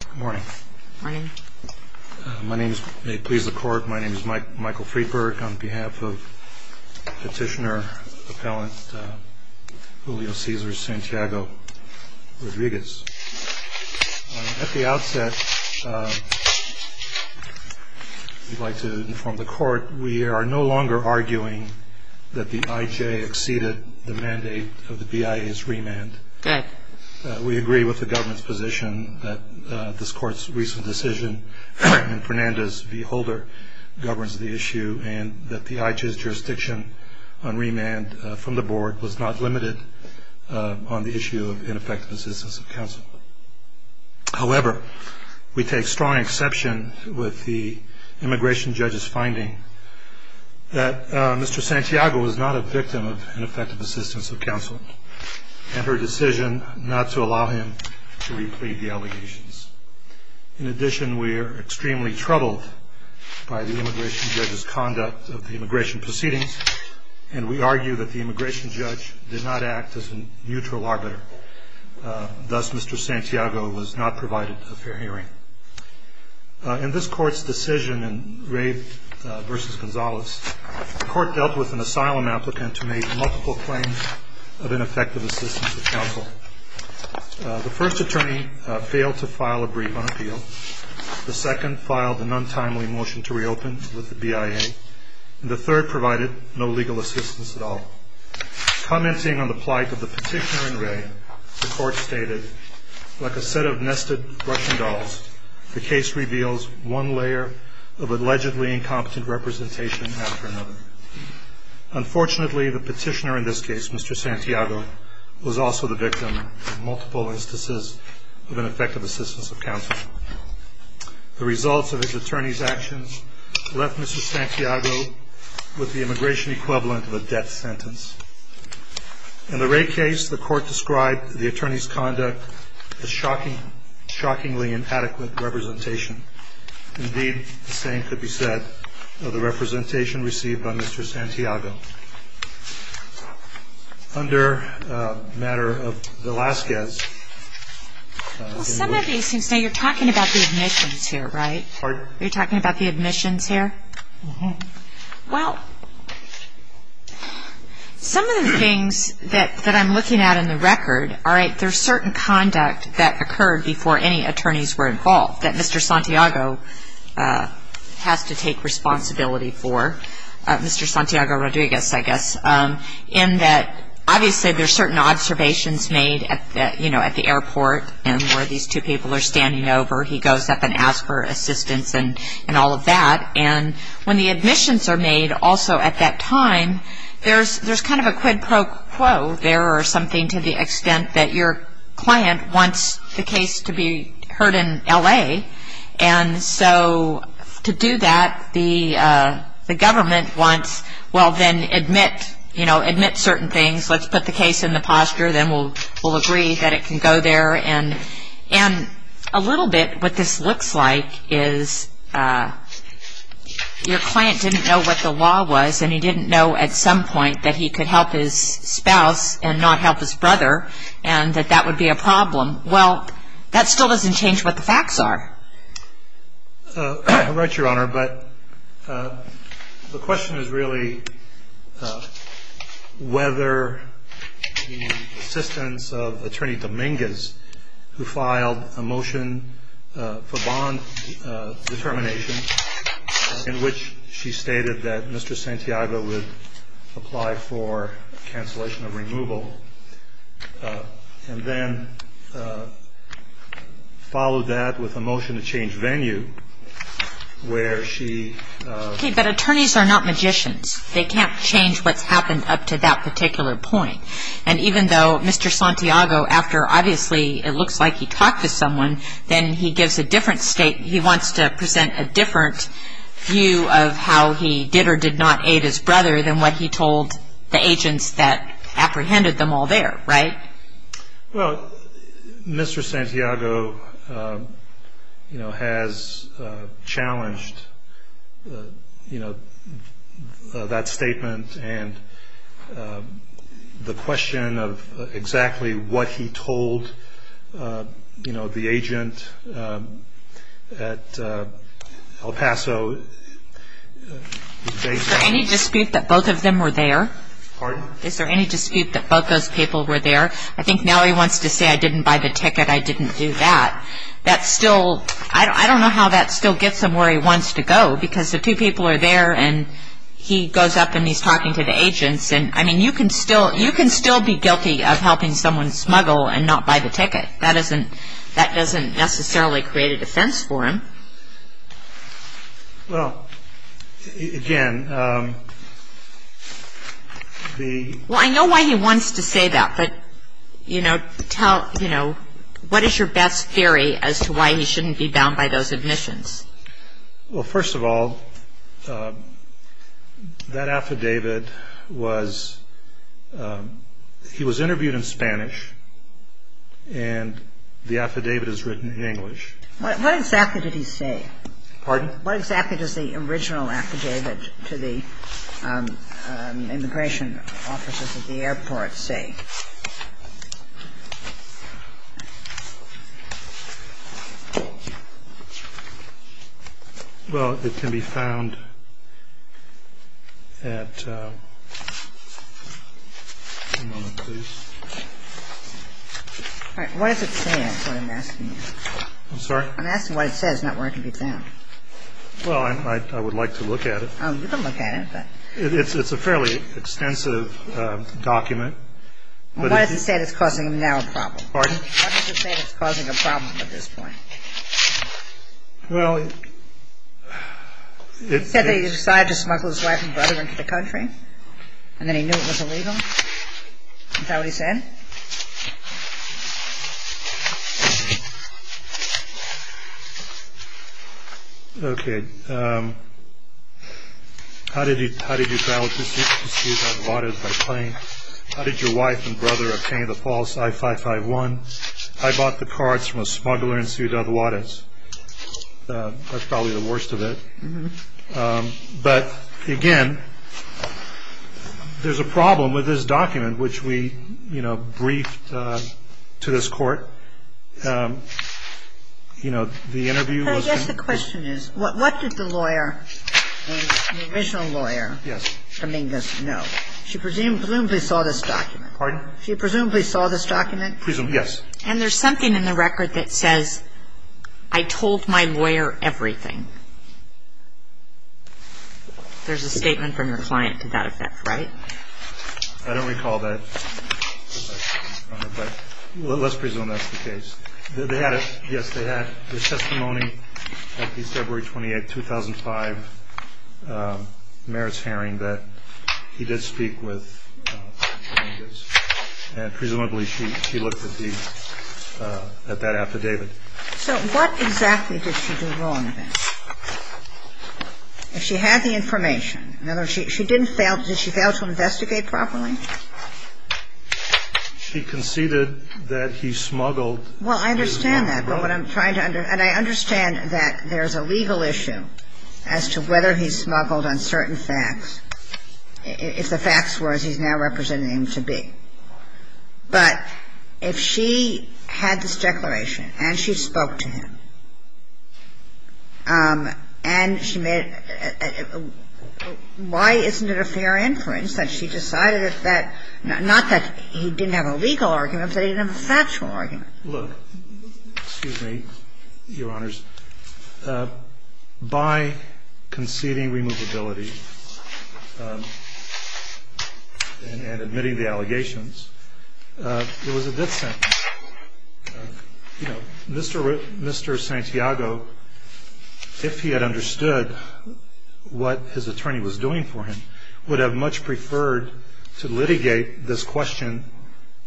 Good morning. My name is, may it please the Court, my name is Michael Friedberg on behalf of Petitioner Appellant Julio Cesar Santiago-Rodriguez. At the outset, we'd like to inform the Court we are no longer arguing that the IJ exceeded the mandate of the BIA's remand. Good. We agree with the government's position that this Court's recent decision in Fernandez v. Holder governs the issue and that the IJ's jurisdiction on remand from the Board was not limited on the issue of ineffective assistance of counsel. However, we take strong exception with the immigration judge's finding that Mr. Santiago was not a victim of ineffective assistance of counsel and her decision not to allow him to replead the allegations. In addition, we are extremely troubled by the immigration judge's conduct of the immigration proceedings and we argue that the immigration judge did not act as a neutral arbiter. Thus, Mr. Santiago was not provided a fair hearing. In this Court's decision in Ray v. Gonzalez, the Court dealt with an asylum applicant who made multiple claims of ineffective assistance of counsel. The first attorney failed to file a brief on appeal, the second filed an untimely motion to reopen with the BIA, and the third provided no legal assistance at all. Commenting on the plight of the petitioner in Ray, the Court stated, Like a set of nested Russian dolls, the case reveals one layer of allegedly incompetent representation after another. Unfortunately, the petitioner in this case, Mr. Santiago, was also the victim of multiple instances of ineffective assistance of counsel. The results of his attorney's actions left Mr. Santiago with the immigration equivalent of a death sentence. In the Ray case, the Court described the attorney's conduct as shockingly inadequate representation. Indeed, the same could be said of the representation received by Mr. Santiago. Mr. Santiago, under the matter of Velazquez. Well, some of these things, now you're talking about the admissions here, right? Pardon? You're talking about the admissions here? Uh-huh. Well, some of the things that I'm looking at in the record, all right, there's certain conduct that occurred before any attorneys were involved that Mr. Santiago has to take responsibility for. Mr. Santiago Rodriguez, I guess, in that obviously there's certain observations made at the airport and where these two people are standing over. He goes up and asks for assistance and all of that. And when the admissions are made also at that time, there's kind of a quid pro quo there or something to the extent that your client wants the case to be heard in L.A. And so to do that, the government wants, well, then admit certain things. Let's put the case in the posture. Then we'll agree that it can go there. And a little bit what this looks like is your client didn't know what the law was and he didn't know at some point that he could help his spouse and not help his brother and that that would be a problem. Well, that still doesn't change what the facts are. Right, Your Honor. But the question is really whether the assistance of Attorney Dominguez, who filed a motion for bond determination, in which she stated that Mr. Santiago would apply for cancellation of removal and then followed that with a motion to change venue where she... Okay, but attorneys are not magicians. They can't change what's happened up to that particular point. And even though Mr. Santiago, after obviously it looks like he talked to someone, then he gives a different statement. He wants to present a different view of how he did or did not aid his brother than what he told the agents that apprehended them all there, right? Well, Mr. Santiago has challenged that statement and the question of exactly what he told, you know, the agent at El Paso... Is there any dispute that both of them were there? Pardon? Is there any dispute that both those people were there? I think now he wants to say I didn't buy the ticket, I didn't do that. That's still, I don't know how that still gets him where he wants to go because the two people are there and he goes up and he's talking to the agents. And, I mean, you can still be guilty of helping someone smuggle and not buy the ticket. That doesn't necessarily create a defense for him. Well, again, the... Well, I know why he wants to say that, but, you know, what is your best theory as to why he shouldn't be bound by those admissions? Well, first of all, that affidavit was, he was interviewed in Spanish and the affidavit is written in English. What exactly did he say? Pardon? Well, what exactly does the original affidavit to the immigration officers at the airport say? Well, it can be found at... One moment, please. All right. What does it say is what I'm asking you. I'm sorry? I'm asking what it says, not where it can be found. Well, I would like to look at it. Oh, you can look at it, but... It's a fairly extensive document. Well, what does it say that's causing him now a problem? Pardon? What does it say that's causing him a problem at this point? Well, it... He said that he decided to smuggle his wife and brother into the country and then he knew it was illegal. Is that what he said? Okay. How did you... How did you... How did you... How did you... How did your wife and brother obtain the false I-551? I bought the cards from a smuggler in Ciudad Juarez. That's probably the worst of it. But, again, there's a problem with this document, which we, you know, briefed to this court. You know, the interview was... I guess the question is, what did the lawyer, the original lawyer... Yes. Dominguez know? She presumably saw this document. Pardon? She presumably saw this document? Presumably, yes. And there's something in the record that says, I told my lawyer everything. There's a statement from your client to that effect, right? I don't recall that. But let's presume that's the case. They had a... Yes, they had a testimony at the February 28, 2005 merits hearing that he did speak with Dominguez. And presumably she looked at the... at that after David. So what exactly did she do wrong then? If she had the information. In other words, she didn't fail. Did she fail to investigate properly? She conceded that he smuggled... Well, I understand that. But what I'm trying to... And I understand that there's a legal issue as to whether he smuggled on certain facts. If the facts were as he's now representing them to be. But if she had this declaration and she spoke to him, and she made... why isn't it a fair inference that she decided that, not that he didn't have a legal argument, but he didn't have a factual argument? Look, excuse me, Your Honors. By conceding removability and admitting the allegations, it was a good sentence. You know, Mr. Santiago, if he had understood what his attorney was doing for him, would have much preferred to litigate this question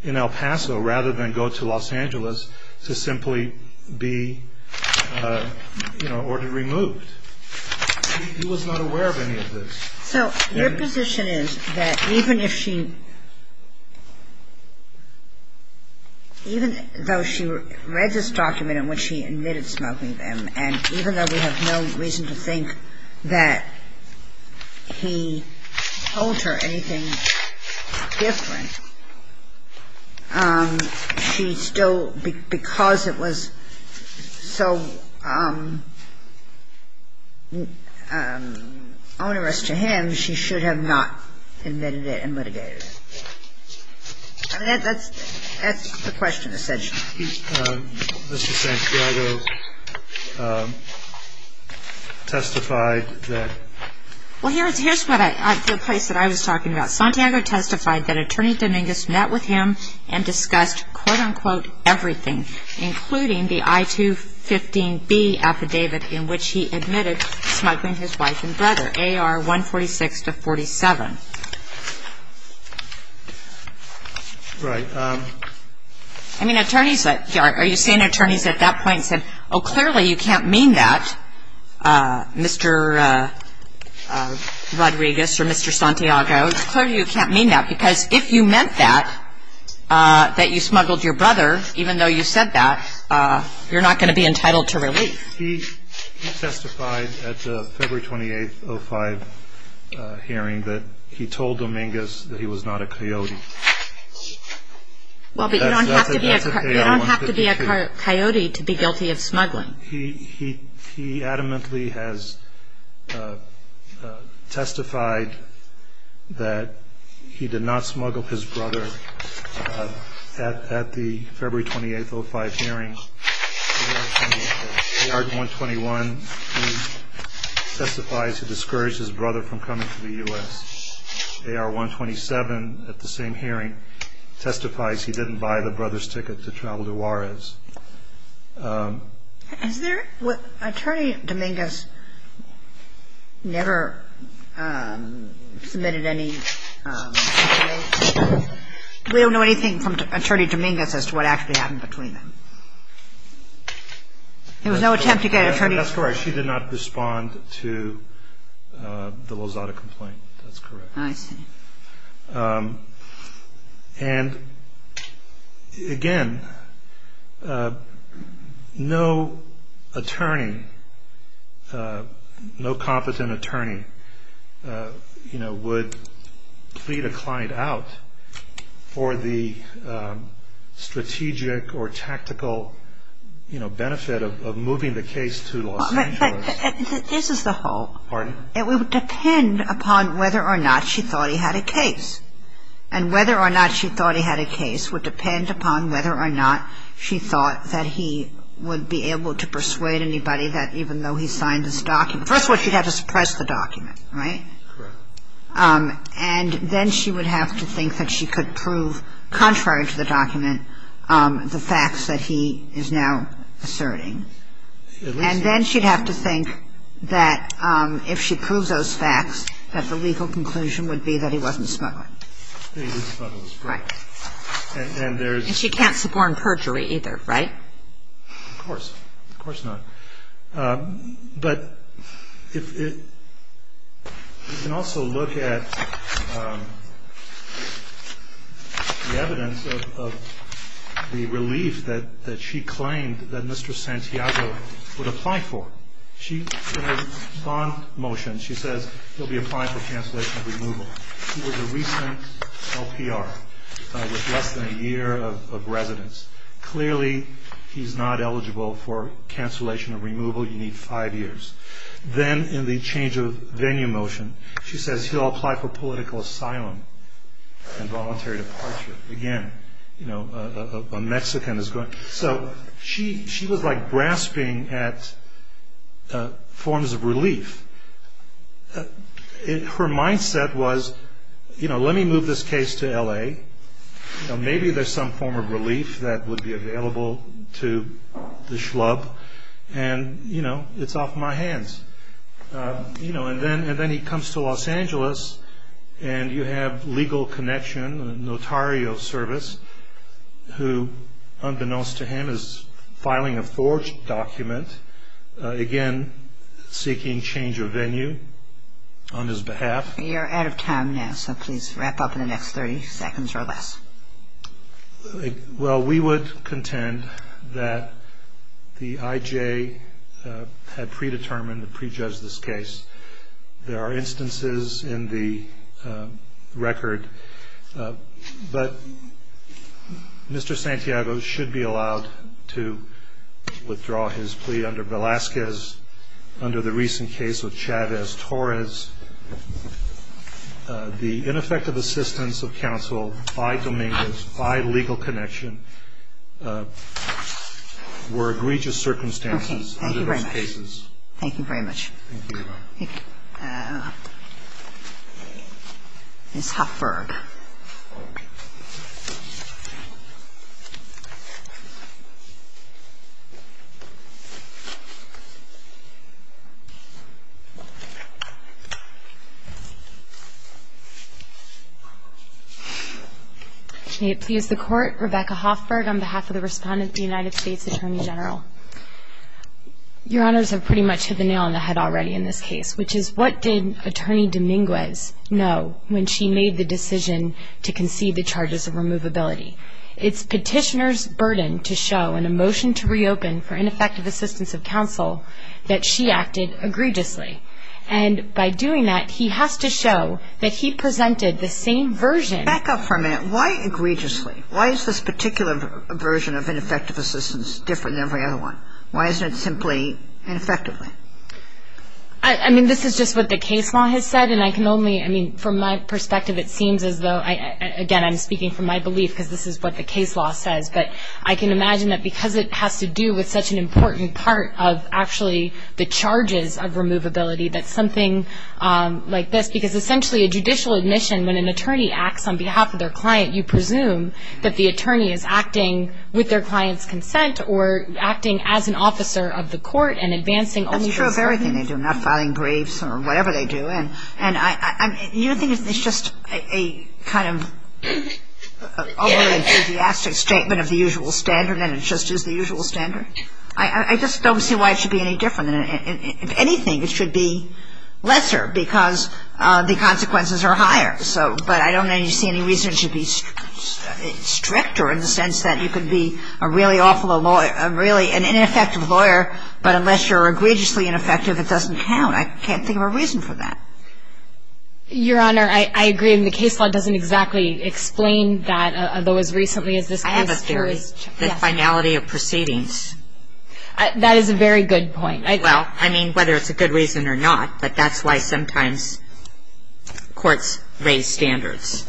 in El Paso rather than go to Los Angeles to simply be, you know, ordered removed. He was not aware of any of this. So your position is that even if she... even though she read this document in which he admitted smoking them, and even though we have no reason to think that he told her anything different, she still, because it was so onerous to him, she should have not admitted it and litigated it? I mean, that's the question essentially. Mr. Santiago testified that... Well, here's the place that I was talking about. Santiago testified that Attorney Dominguez met with him and discussed, quote-unquote, everything, including the I-215B affidavit in which he admitted smuggling his wife and brother, A.R. 146-47. Right. I mean, attorneys, are you seeing attorneys at that point said, oh, clearly you can't mean that, Mr. Rodriguez or Mr. Santiago, clearly you can't mean that because if you meant that, that you smuggled your brother, even though you said that, you're not going to be entitled to relief. He testified at the February 28, 2005 hearing that he told Dominguez that he was not a coyote. Well, but you don't have to be a coyote to be guilty of smuggling. He adamantly has testified that he did not smuggle his brother at the February 28, 2005 hearing. A.R. 121 testifies he discouraged his brother from coming to the U.S. A.R. 127 at the same hearing testifies he didn't buy the brother's ticket to travel to Juarez. Is there what Attorney Dominguez never submitted any... There was no attempt to get an attorney... That's correct. She did not respond to the Lozada complaint. That's correct. I see. And, again, no attorney, no competent attorney, you know, would plead a client out for the strategic or tactical, you know, benefit of moving the case to Los Angeles. But this is the whole. Pardon? It would depend upon whether or not she thought he had a case. And whether or not she thought he had a case would depend upon whether or not she thought that he would be able to persuade anybody that even though he signed this document. First of all, she'd have to suppress the document, right? Correct. And then she would have to think that she could prove, contrary to the document, the facts that he is now asserting. At least. And then she'd have to think that if she proves those facts, that the legal conclusion would be that he wasn't smuggling. That he was smuggling. Right. And there's... And she can't suborn perjury either, right? Of course. Of course not. But you can also look at the evidence of the relief that she claimed that Mr. Santiago would apply for. In her bond motion, she says he'll be applying for cancellation of removal. He was a recent LPR with less than a year of residence. Clearly, he's not eligible for cancellation of removal. You need five years. Then in the change of venue motion, she says he'll apply for political asylum and voluntary departure. Again, a Mexican is going... So she was like grasping at forms of relief. Her mindset was, you know, let me move this case to L.A. Maybe there's some form of relief that would be available to the schlub. And, you know, it's off my hands. And then he comes to Los Angeles, and you have legal connection, notario service, who, unbeknownst to him, is filing a forged document. Again, seeking change of venue on his behalf. You're out of time now, so please wrap up in the next 30 seconds or less. Well, we would contend that the IJ had predetermined to prejudge this case. There are instances in the record. But Mr. Santiago should be allowed to withdraw his plea under Velazquez, under the recent case of Chavez-Torres. The ineffective assistance of counsel by Dominguez, by legal connection, were egregious circumstances under those cases. Okay. Thank you very much. Thank you very much. Ms. Hoffberg. May it please the Court, Rebecca Hoffberg, on behalf of the respondent, the United States Attorney General. Your Honors, I've pretty much hit the nail on the head already in this case, which is what did Attorney Dominguez know when she made the decision to concede the charges of removability? It's Petitioner's burden to show in a motion to reopen for ineffective assistance of counsel that she acted egregiously. And by doing that, he has to show that he presented the same version. Back up for a minute. Why egregiously? Why is this particular version of ineffective assistance different than every other one? Why isn't it simply ineffectively? I mean, this is just what the case law has said. And I can only, I mean, from my perspective, it seems as though, again, I'm speaking from my belief because this is what the case law says. But I can imagine that because it has to do with such an important part of actually the charges of removability, that something like this, because essentially a judicial admission, when an attorney acts on behalf of their client, you presume that the attorney is acting with their client's consent or acting as an officer of the court and advancing only those rights. That's true of everything they do, not filing briefs or whatever they do. And you don't think it's just a kind of overly enthusiastic statement of the usual standard and it just is the usual standard? I just don't see why it should be any different. If anything, it should be lesser because the consequences are higher. But I don't see any reason it should be stricter in the sense that you could be a really awful lawyer, a really ineffective lawyer, but unless you're egregiously ineffective, it doesn't count. I can't think of a reason for that. Your Honor, I agree. I mean, the case law doesn't exactly explain that, although as recently as this case. I have a theory. Yes. The finality of proceedings. That is a very good point. Well, I mean, whether it's a good reason or not, but that's why sometimes courts raise standards.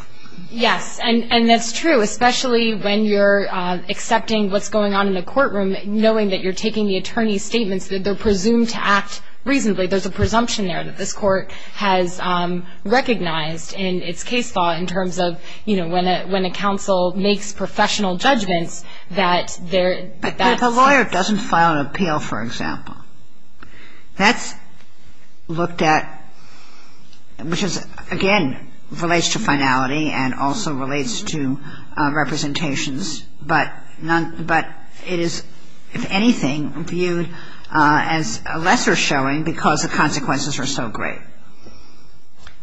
Yes. And that's true, especially when you're accepting what's going on in the courtroom, knowing that you're taking the attorney's statements, that they're presumed to act reasonably. There's a presumption there that this court has recognized in its case law in terms of, you know, when a counsel makes professional judgments that that's it. But if a lawyer doesn't file an appeal, for example, that's looked at, which is, again, relates to finality and also relates to representations, but it is, if anything, viewed as a lesser showing because the consequences are so great.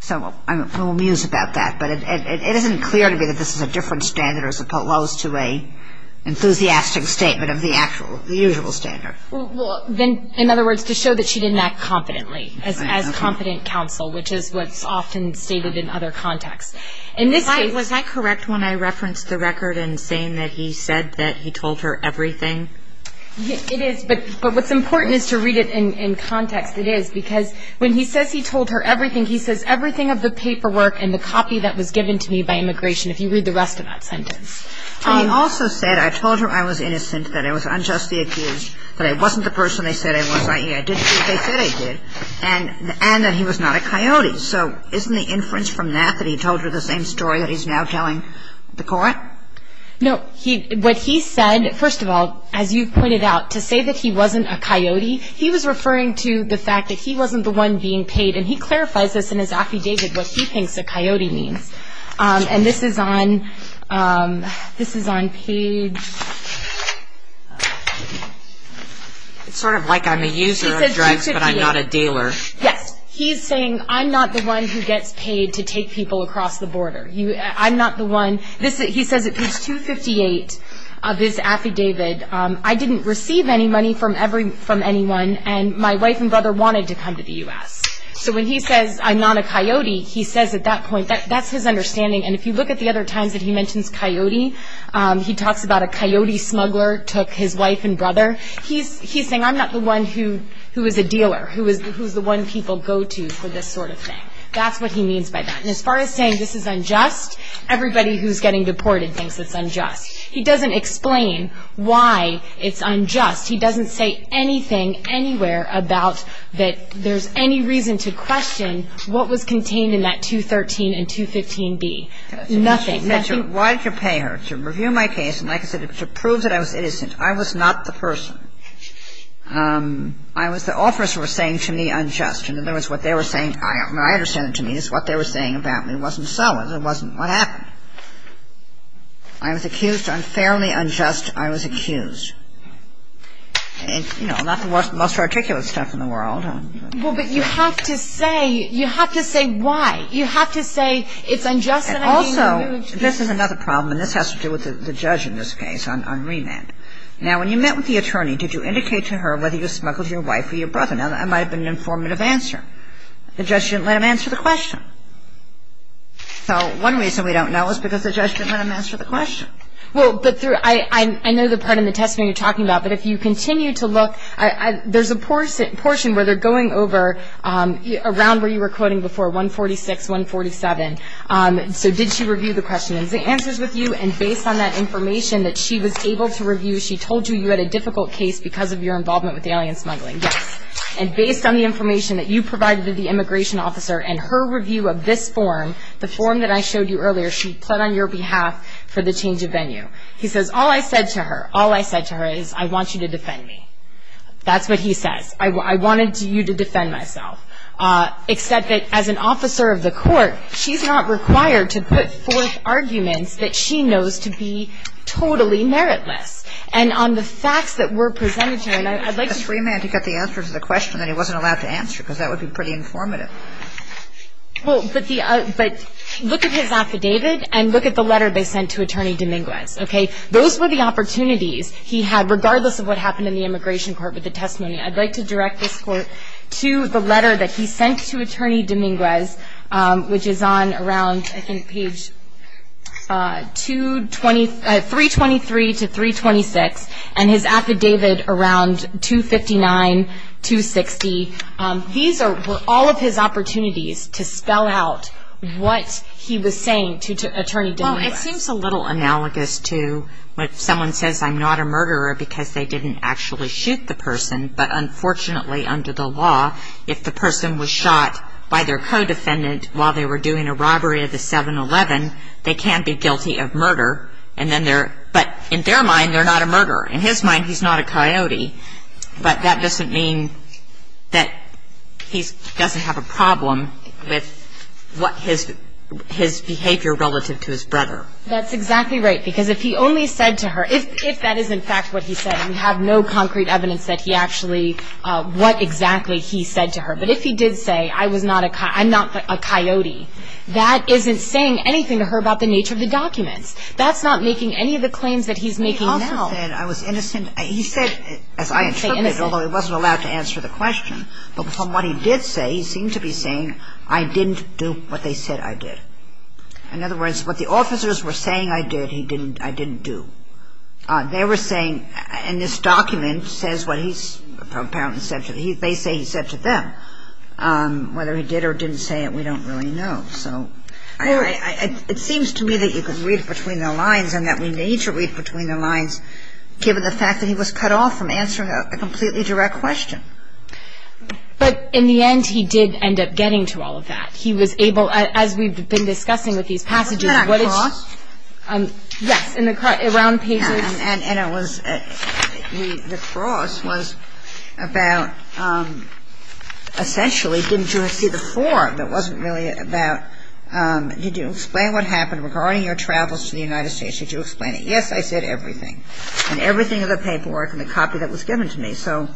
So I'm a little amused about that, but it isn't clear to me that this is a different standard as opposed to a enthusiastic statement of the actual, the usual standard. Well, then, in other words, to show that she didn't act confidently as confident counsel, which is what's often stated in other contexts. In this case — Was I correct when I referenced the record in saying that he said that he told her everything? It is, but what's important is to read it in context. It is because when he says he told her everything, he says everything of the paperwork and the copy that was given to me by immigration, if you read the rest of that sentence. He also said, I told her I was innocent, that I was unjustly accused, that I wasn't the person they said I was, i.e., I didn't do what they said I did, and that he was not a coyote. So isn't the inference from that that he told her the same story that he's now telling the court? No. What he said, first of all, as you've pointed out, to say that he wasn't a coyote, he was referring to the fact that he wasn't the one being paid. And he clarifies this in his affidavit, what he thinks a coyote means. And this is on page — It's sort of like I'm a user of drugs, but I'm not a dealer. Yes. He's saying, I'm not the one who gets paid to take people across the border. I'm not the one — he says at page 258 of his affidavit, I didn't receive any money from anyone, and my wife and brother wanted to come to the U.S. So when he says, I'm not a coyote, he says at that point, that's his understanding. And if you look at the other times that he mentions coyote, he talks about a coyote smuggler took his wife and brother. He's saying, I'm not the one who is a dealer, who's the one people go to for this sort of thing. That's what he means by that. And as far as saying this is unjust, everybody who's getting deported thinks it's unjust. He doesn't explain why it's unjust. He doesn't say anything anywhere about that there's any reason to question what was contained in that 213 and 215B. Nothing. Nothing. Why did you pay her? To review my case and, like I said, to prove that I was innocent. I was not the person. I was the officer was saying to me unjust. And there was what they were saying. I understand it to me. It's what they were saying about me. It wasn't so. It wasn't what happened. I was accused unfairly unjust. I was accused. And, you know, not the most articulate stuff in the world. Well, but you have to say why. You have to say it's unjust. Also, this is another problem, and this has to do with the judge in this case on remand. Now, when you met with the attorney, did you indicate to her whether you smuggled your wife or your brother? Now, that might have been an informative answer. The judge didn't let him answer the question. So one reason we don't know is because the judge didn't let him answer the question. Well, I know the part in the testimony you're talking about, but if you continue to look, there's a portion where they're going over around where you were quoting before, 146, 147. So did she review the questions, the answers with you? And based on that information that she was able to review, she told you you had a difficult case because of your involvement with the alien smuggling? Yes. And based on the information that you provided to the immigration officer and her review of this form, the form that I showed you earlier, she pled on your behalf for the change of venue. He says, all I said to her, all I said to her is, I want you to defend me. That's what he says. I wanted you to defend myself. Except that as an officer of the court, she's not required to put forth arguments that she knows to be totally meritless. And on the facts that were presented to her, and I'd like to ---- It's remand to get the answer to the question that he wasn't allowed to answer, because that would be pretty informative. Well, but look at his affidavit and look at the letter they sent to Attorney Dominguez, okay? Those were the opportunities he had, regardless of what happened in the immigration court with the testimony. I'd like to direct this court to the letter that he sent to Attorney Dominguez, which is on around, I think, page 323 to 326, and his affidavit around 259, 260. These were all of his opportunities to spell out what he was saying to Attorney Dominguez. Well, it seems a little analogous to when someone says, I'm not a murderer because they didn't actually shoot the person. But unfortunately, under the law, if the person was shot by their co-defendant while they were doing a robbery of the 7-Eleven, they can be guilty of murder. But in their mind, they're not a murderer. In his mind, he's not a coyote. But that doesn't mean that he doesn't have a problem with his behavior relative to his brother. That's exactly right, because if he only said to her, if that is, in fact, what he said, and we have no concrete evidence that he actually, what exactly he said to her, but if he did say, I'm not a coyote, that isn't saying anything to her about the nature of the documents. That's not making any of the claims that he's making now. He said I was innocent. He said, as I interpreted, although he wasn't allowed to answer the question, but from what he did say, he seemed to be saying, I didn't do what they said I did. In other words, what the officers were saying I did, I didn't do. They were saying, and this document says what he apparently said to them. They say he said to them. Whether he did or didn't say it, we don't really know. So it seems to me that you can read between the lines and that we need to read between the lines, given the fact that he was cut off from answering a completely direct question. But in the end, he did end up getting to all of that. He was able, as we've been discussing with these passages. Wasn't that a cross? Yes, in the round pages. And it was the cross was about essentially didn't you see the form? It wasn't really about did you explain what happened regarding your travels to the United States? Did you explain it? Yes, I said everything. And everything of the paperwork and the copy that was given to me. So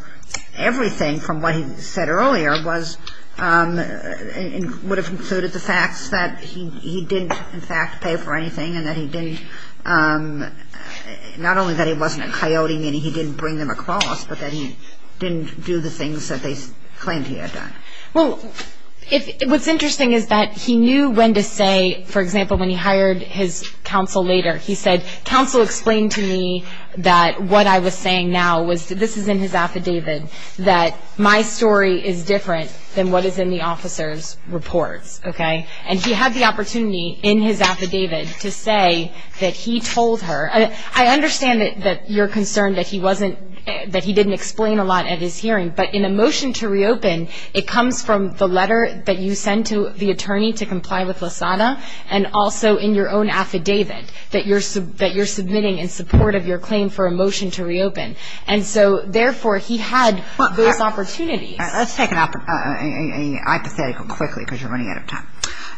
everything from what he said earlier was and would have included the facts that he didn't in fact pay for anything and that he didn't, not only that he wasn't a coyote meaning he didn't bring them across, but that he didn't do the things that they claimed he had done. Well, what's interesting is that he knew when to say, for example, when he hired his counsel later, he said counsel explained to me that what I was saying now was, this is in his affidavit, that my story is different than what is in the officer's reports. Okay? And he had the opportunity in his affidavit to say that he told her. I understand that you're concerned that he wasn't, that he didn't explain a lot at his hearing. But in a motion to reopen, it comes from the letter that you send to the attorney to comply with LASANA and also in your own affidavit that you're submitting in support of your claim for a motion to reopen. And so, therefore, he had those opportunities. Let's take an hypothetical quickly because you're running out of time.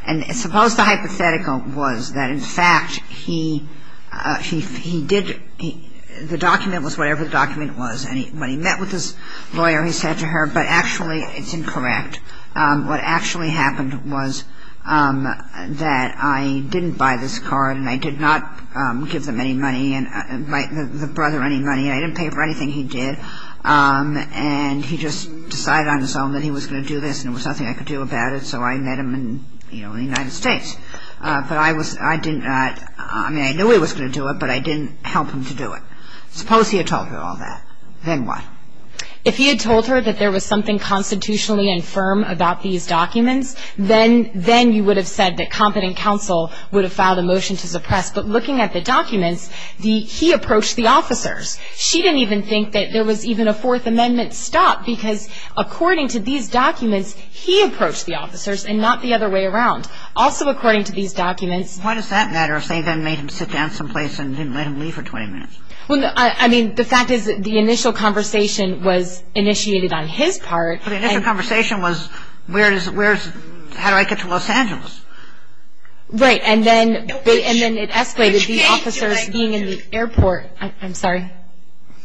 And suppose the hypothetical was that, in fact, he did, the document was whatever the document was and when he met with his lawyer, he said to her, but actually it's incorrect. What actually happened was that I didn't buy this card and I did not give them any money, the brother any money, and I didn't pay for anything he did. And he just decided on his own that he was going to do this and there was nothing I could do about it, so I met him in the United States. But I was, I didn't, I mean, I knew he was going to do it, but I didn't help him to do it. Suppose he had told her all that. Then what? If he had told her that there was something constitutionally infirm about these documents, then you would have said that competent counsel would have filed a motion to suppress. But looking at the documents, he approached the officers. She didn't even think that there was even a Fourth Amendment stop because according to these documents, he approached the officers and not the other way around. Also, according to these documents. Why does that matter if they then made him sit down someplace and didn't let him leave for 20 minutes? Well, I mean, the fact is that the initial conversation was initiated on his part. But the initial conversation was where is, where is, how do I get to Los Angeles? Right. And then it escalated to the officers being in the airport. I'm sorry?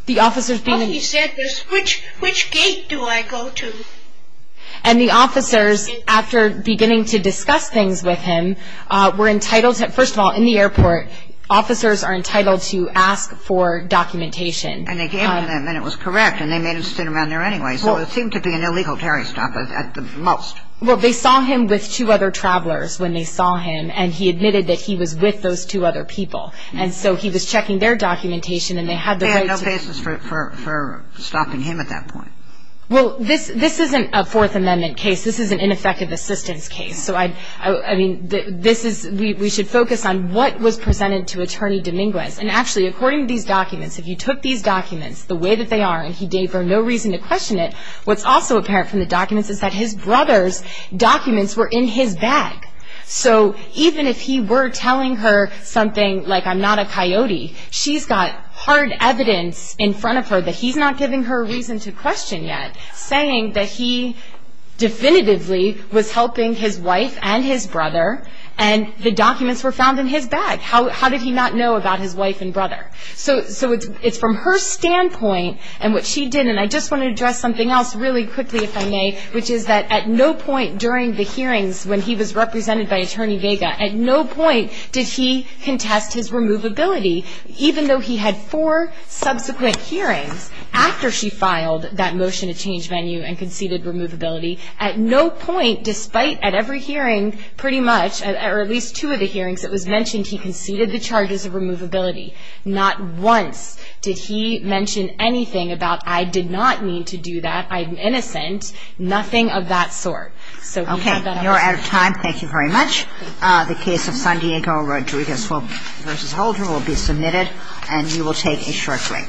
The officers being in the airport. He said, which gate do I go to? And the officers, after beginning to discuss things with him, were entitled to, first of all, in the airport, officers are entitled to ask for documentation. And they gave it to them, and it was correct, and they made him sit around there anyway. So it seemed to be an illegal terrorist attack at the most. Well, they saw him with two other travelers when they saw him, and he admitted that he was with those two other people. And so he was checking their documentation, and they had the right to. They had no basis for stopping him at that point. Well, this isn't a Fourth Amendment case. This is an ineffective assistance case. So, I mean, this is, we should focus on what was presented to Attorney Dominguez. And actually, according to these documents, if you took these documents the way that they are, and he gave her no reason to question it, what's also apparent from the documents is that his brother's documents were in his bag. So even if he were telling her something like, I'm not a coyote, she's got hard evidence in front of her that he's not giving her a reason to question yet, saying that he definitively was helping his wife and his brother, and the documents were found in his bag. How did he not know about his wife and brother? So it's from her standpoint, and what she did, and I just want to address something else really quickly, if I may, which is that at no point during the hearings when he was represented by Attorney Vega, at no point did he contest his removability. Even though he had four subsequent hearings, after she filed that motion to change venue and conceded removability, at no point, despite at every hearing, pretty much, or at least two of the hearings, it was mentioned he conceded the charges of removability. Not once did he mention anything about, I did not mean to do that, I'm innocent. Nothing of that sort. Okay, you're out of time. Thank you very much. The case of San Diego Rodriguez v. Holder will be submitted, and you will take a short break.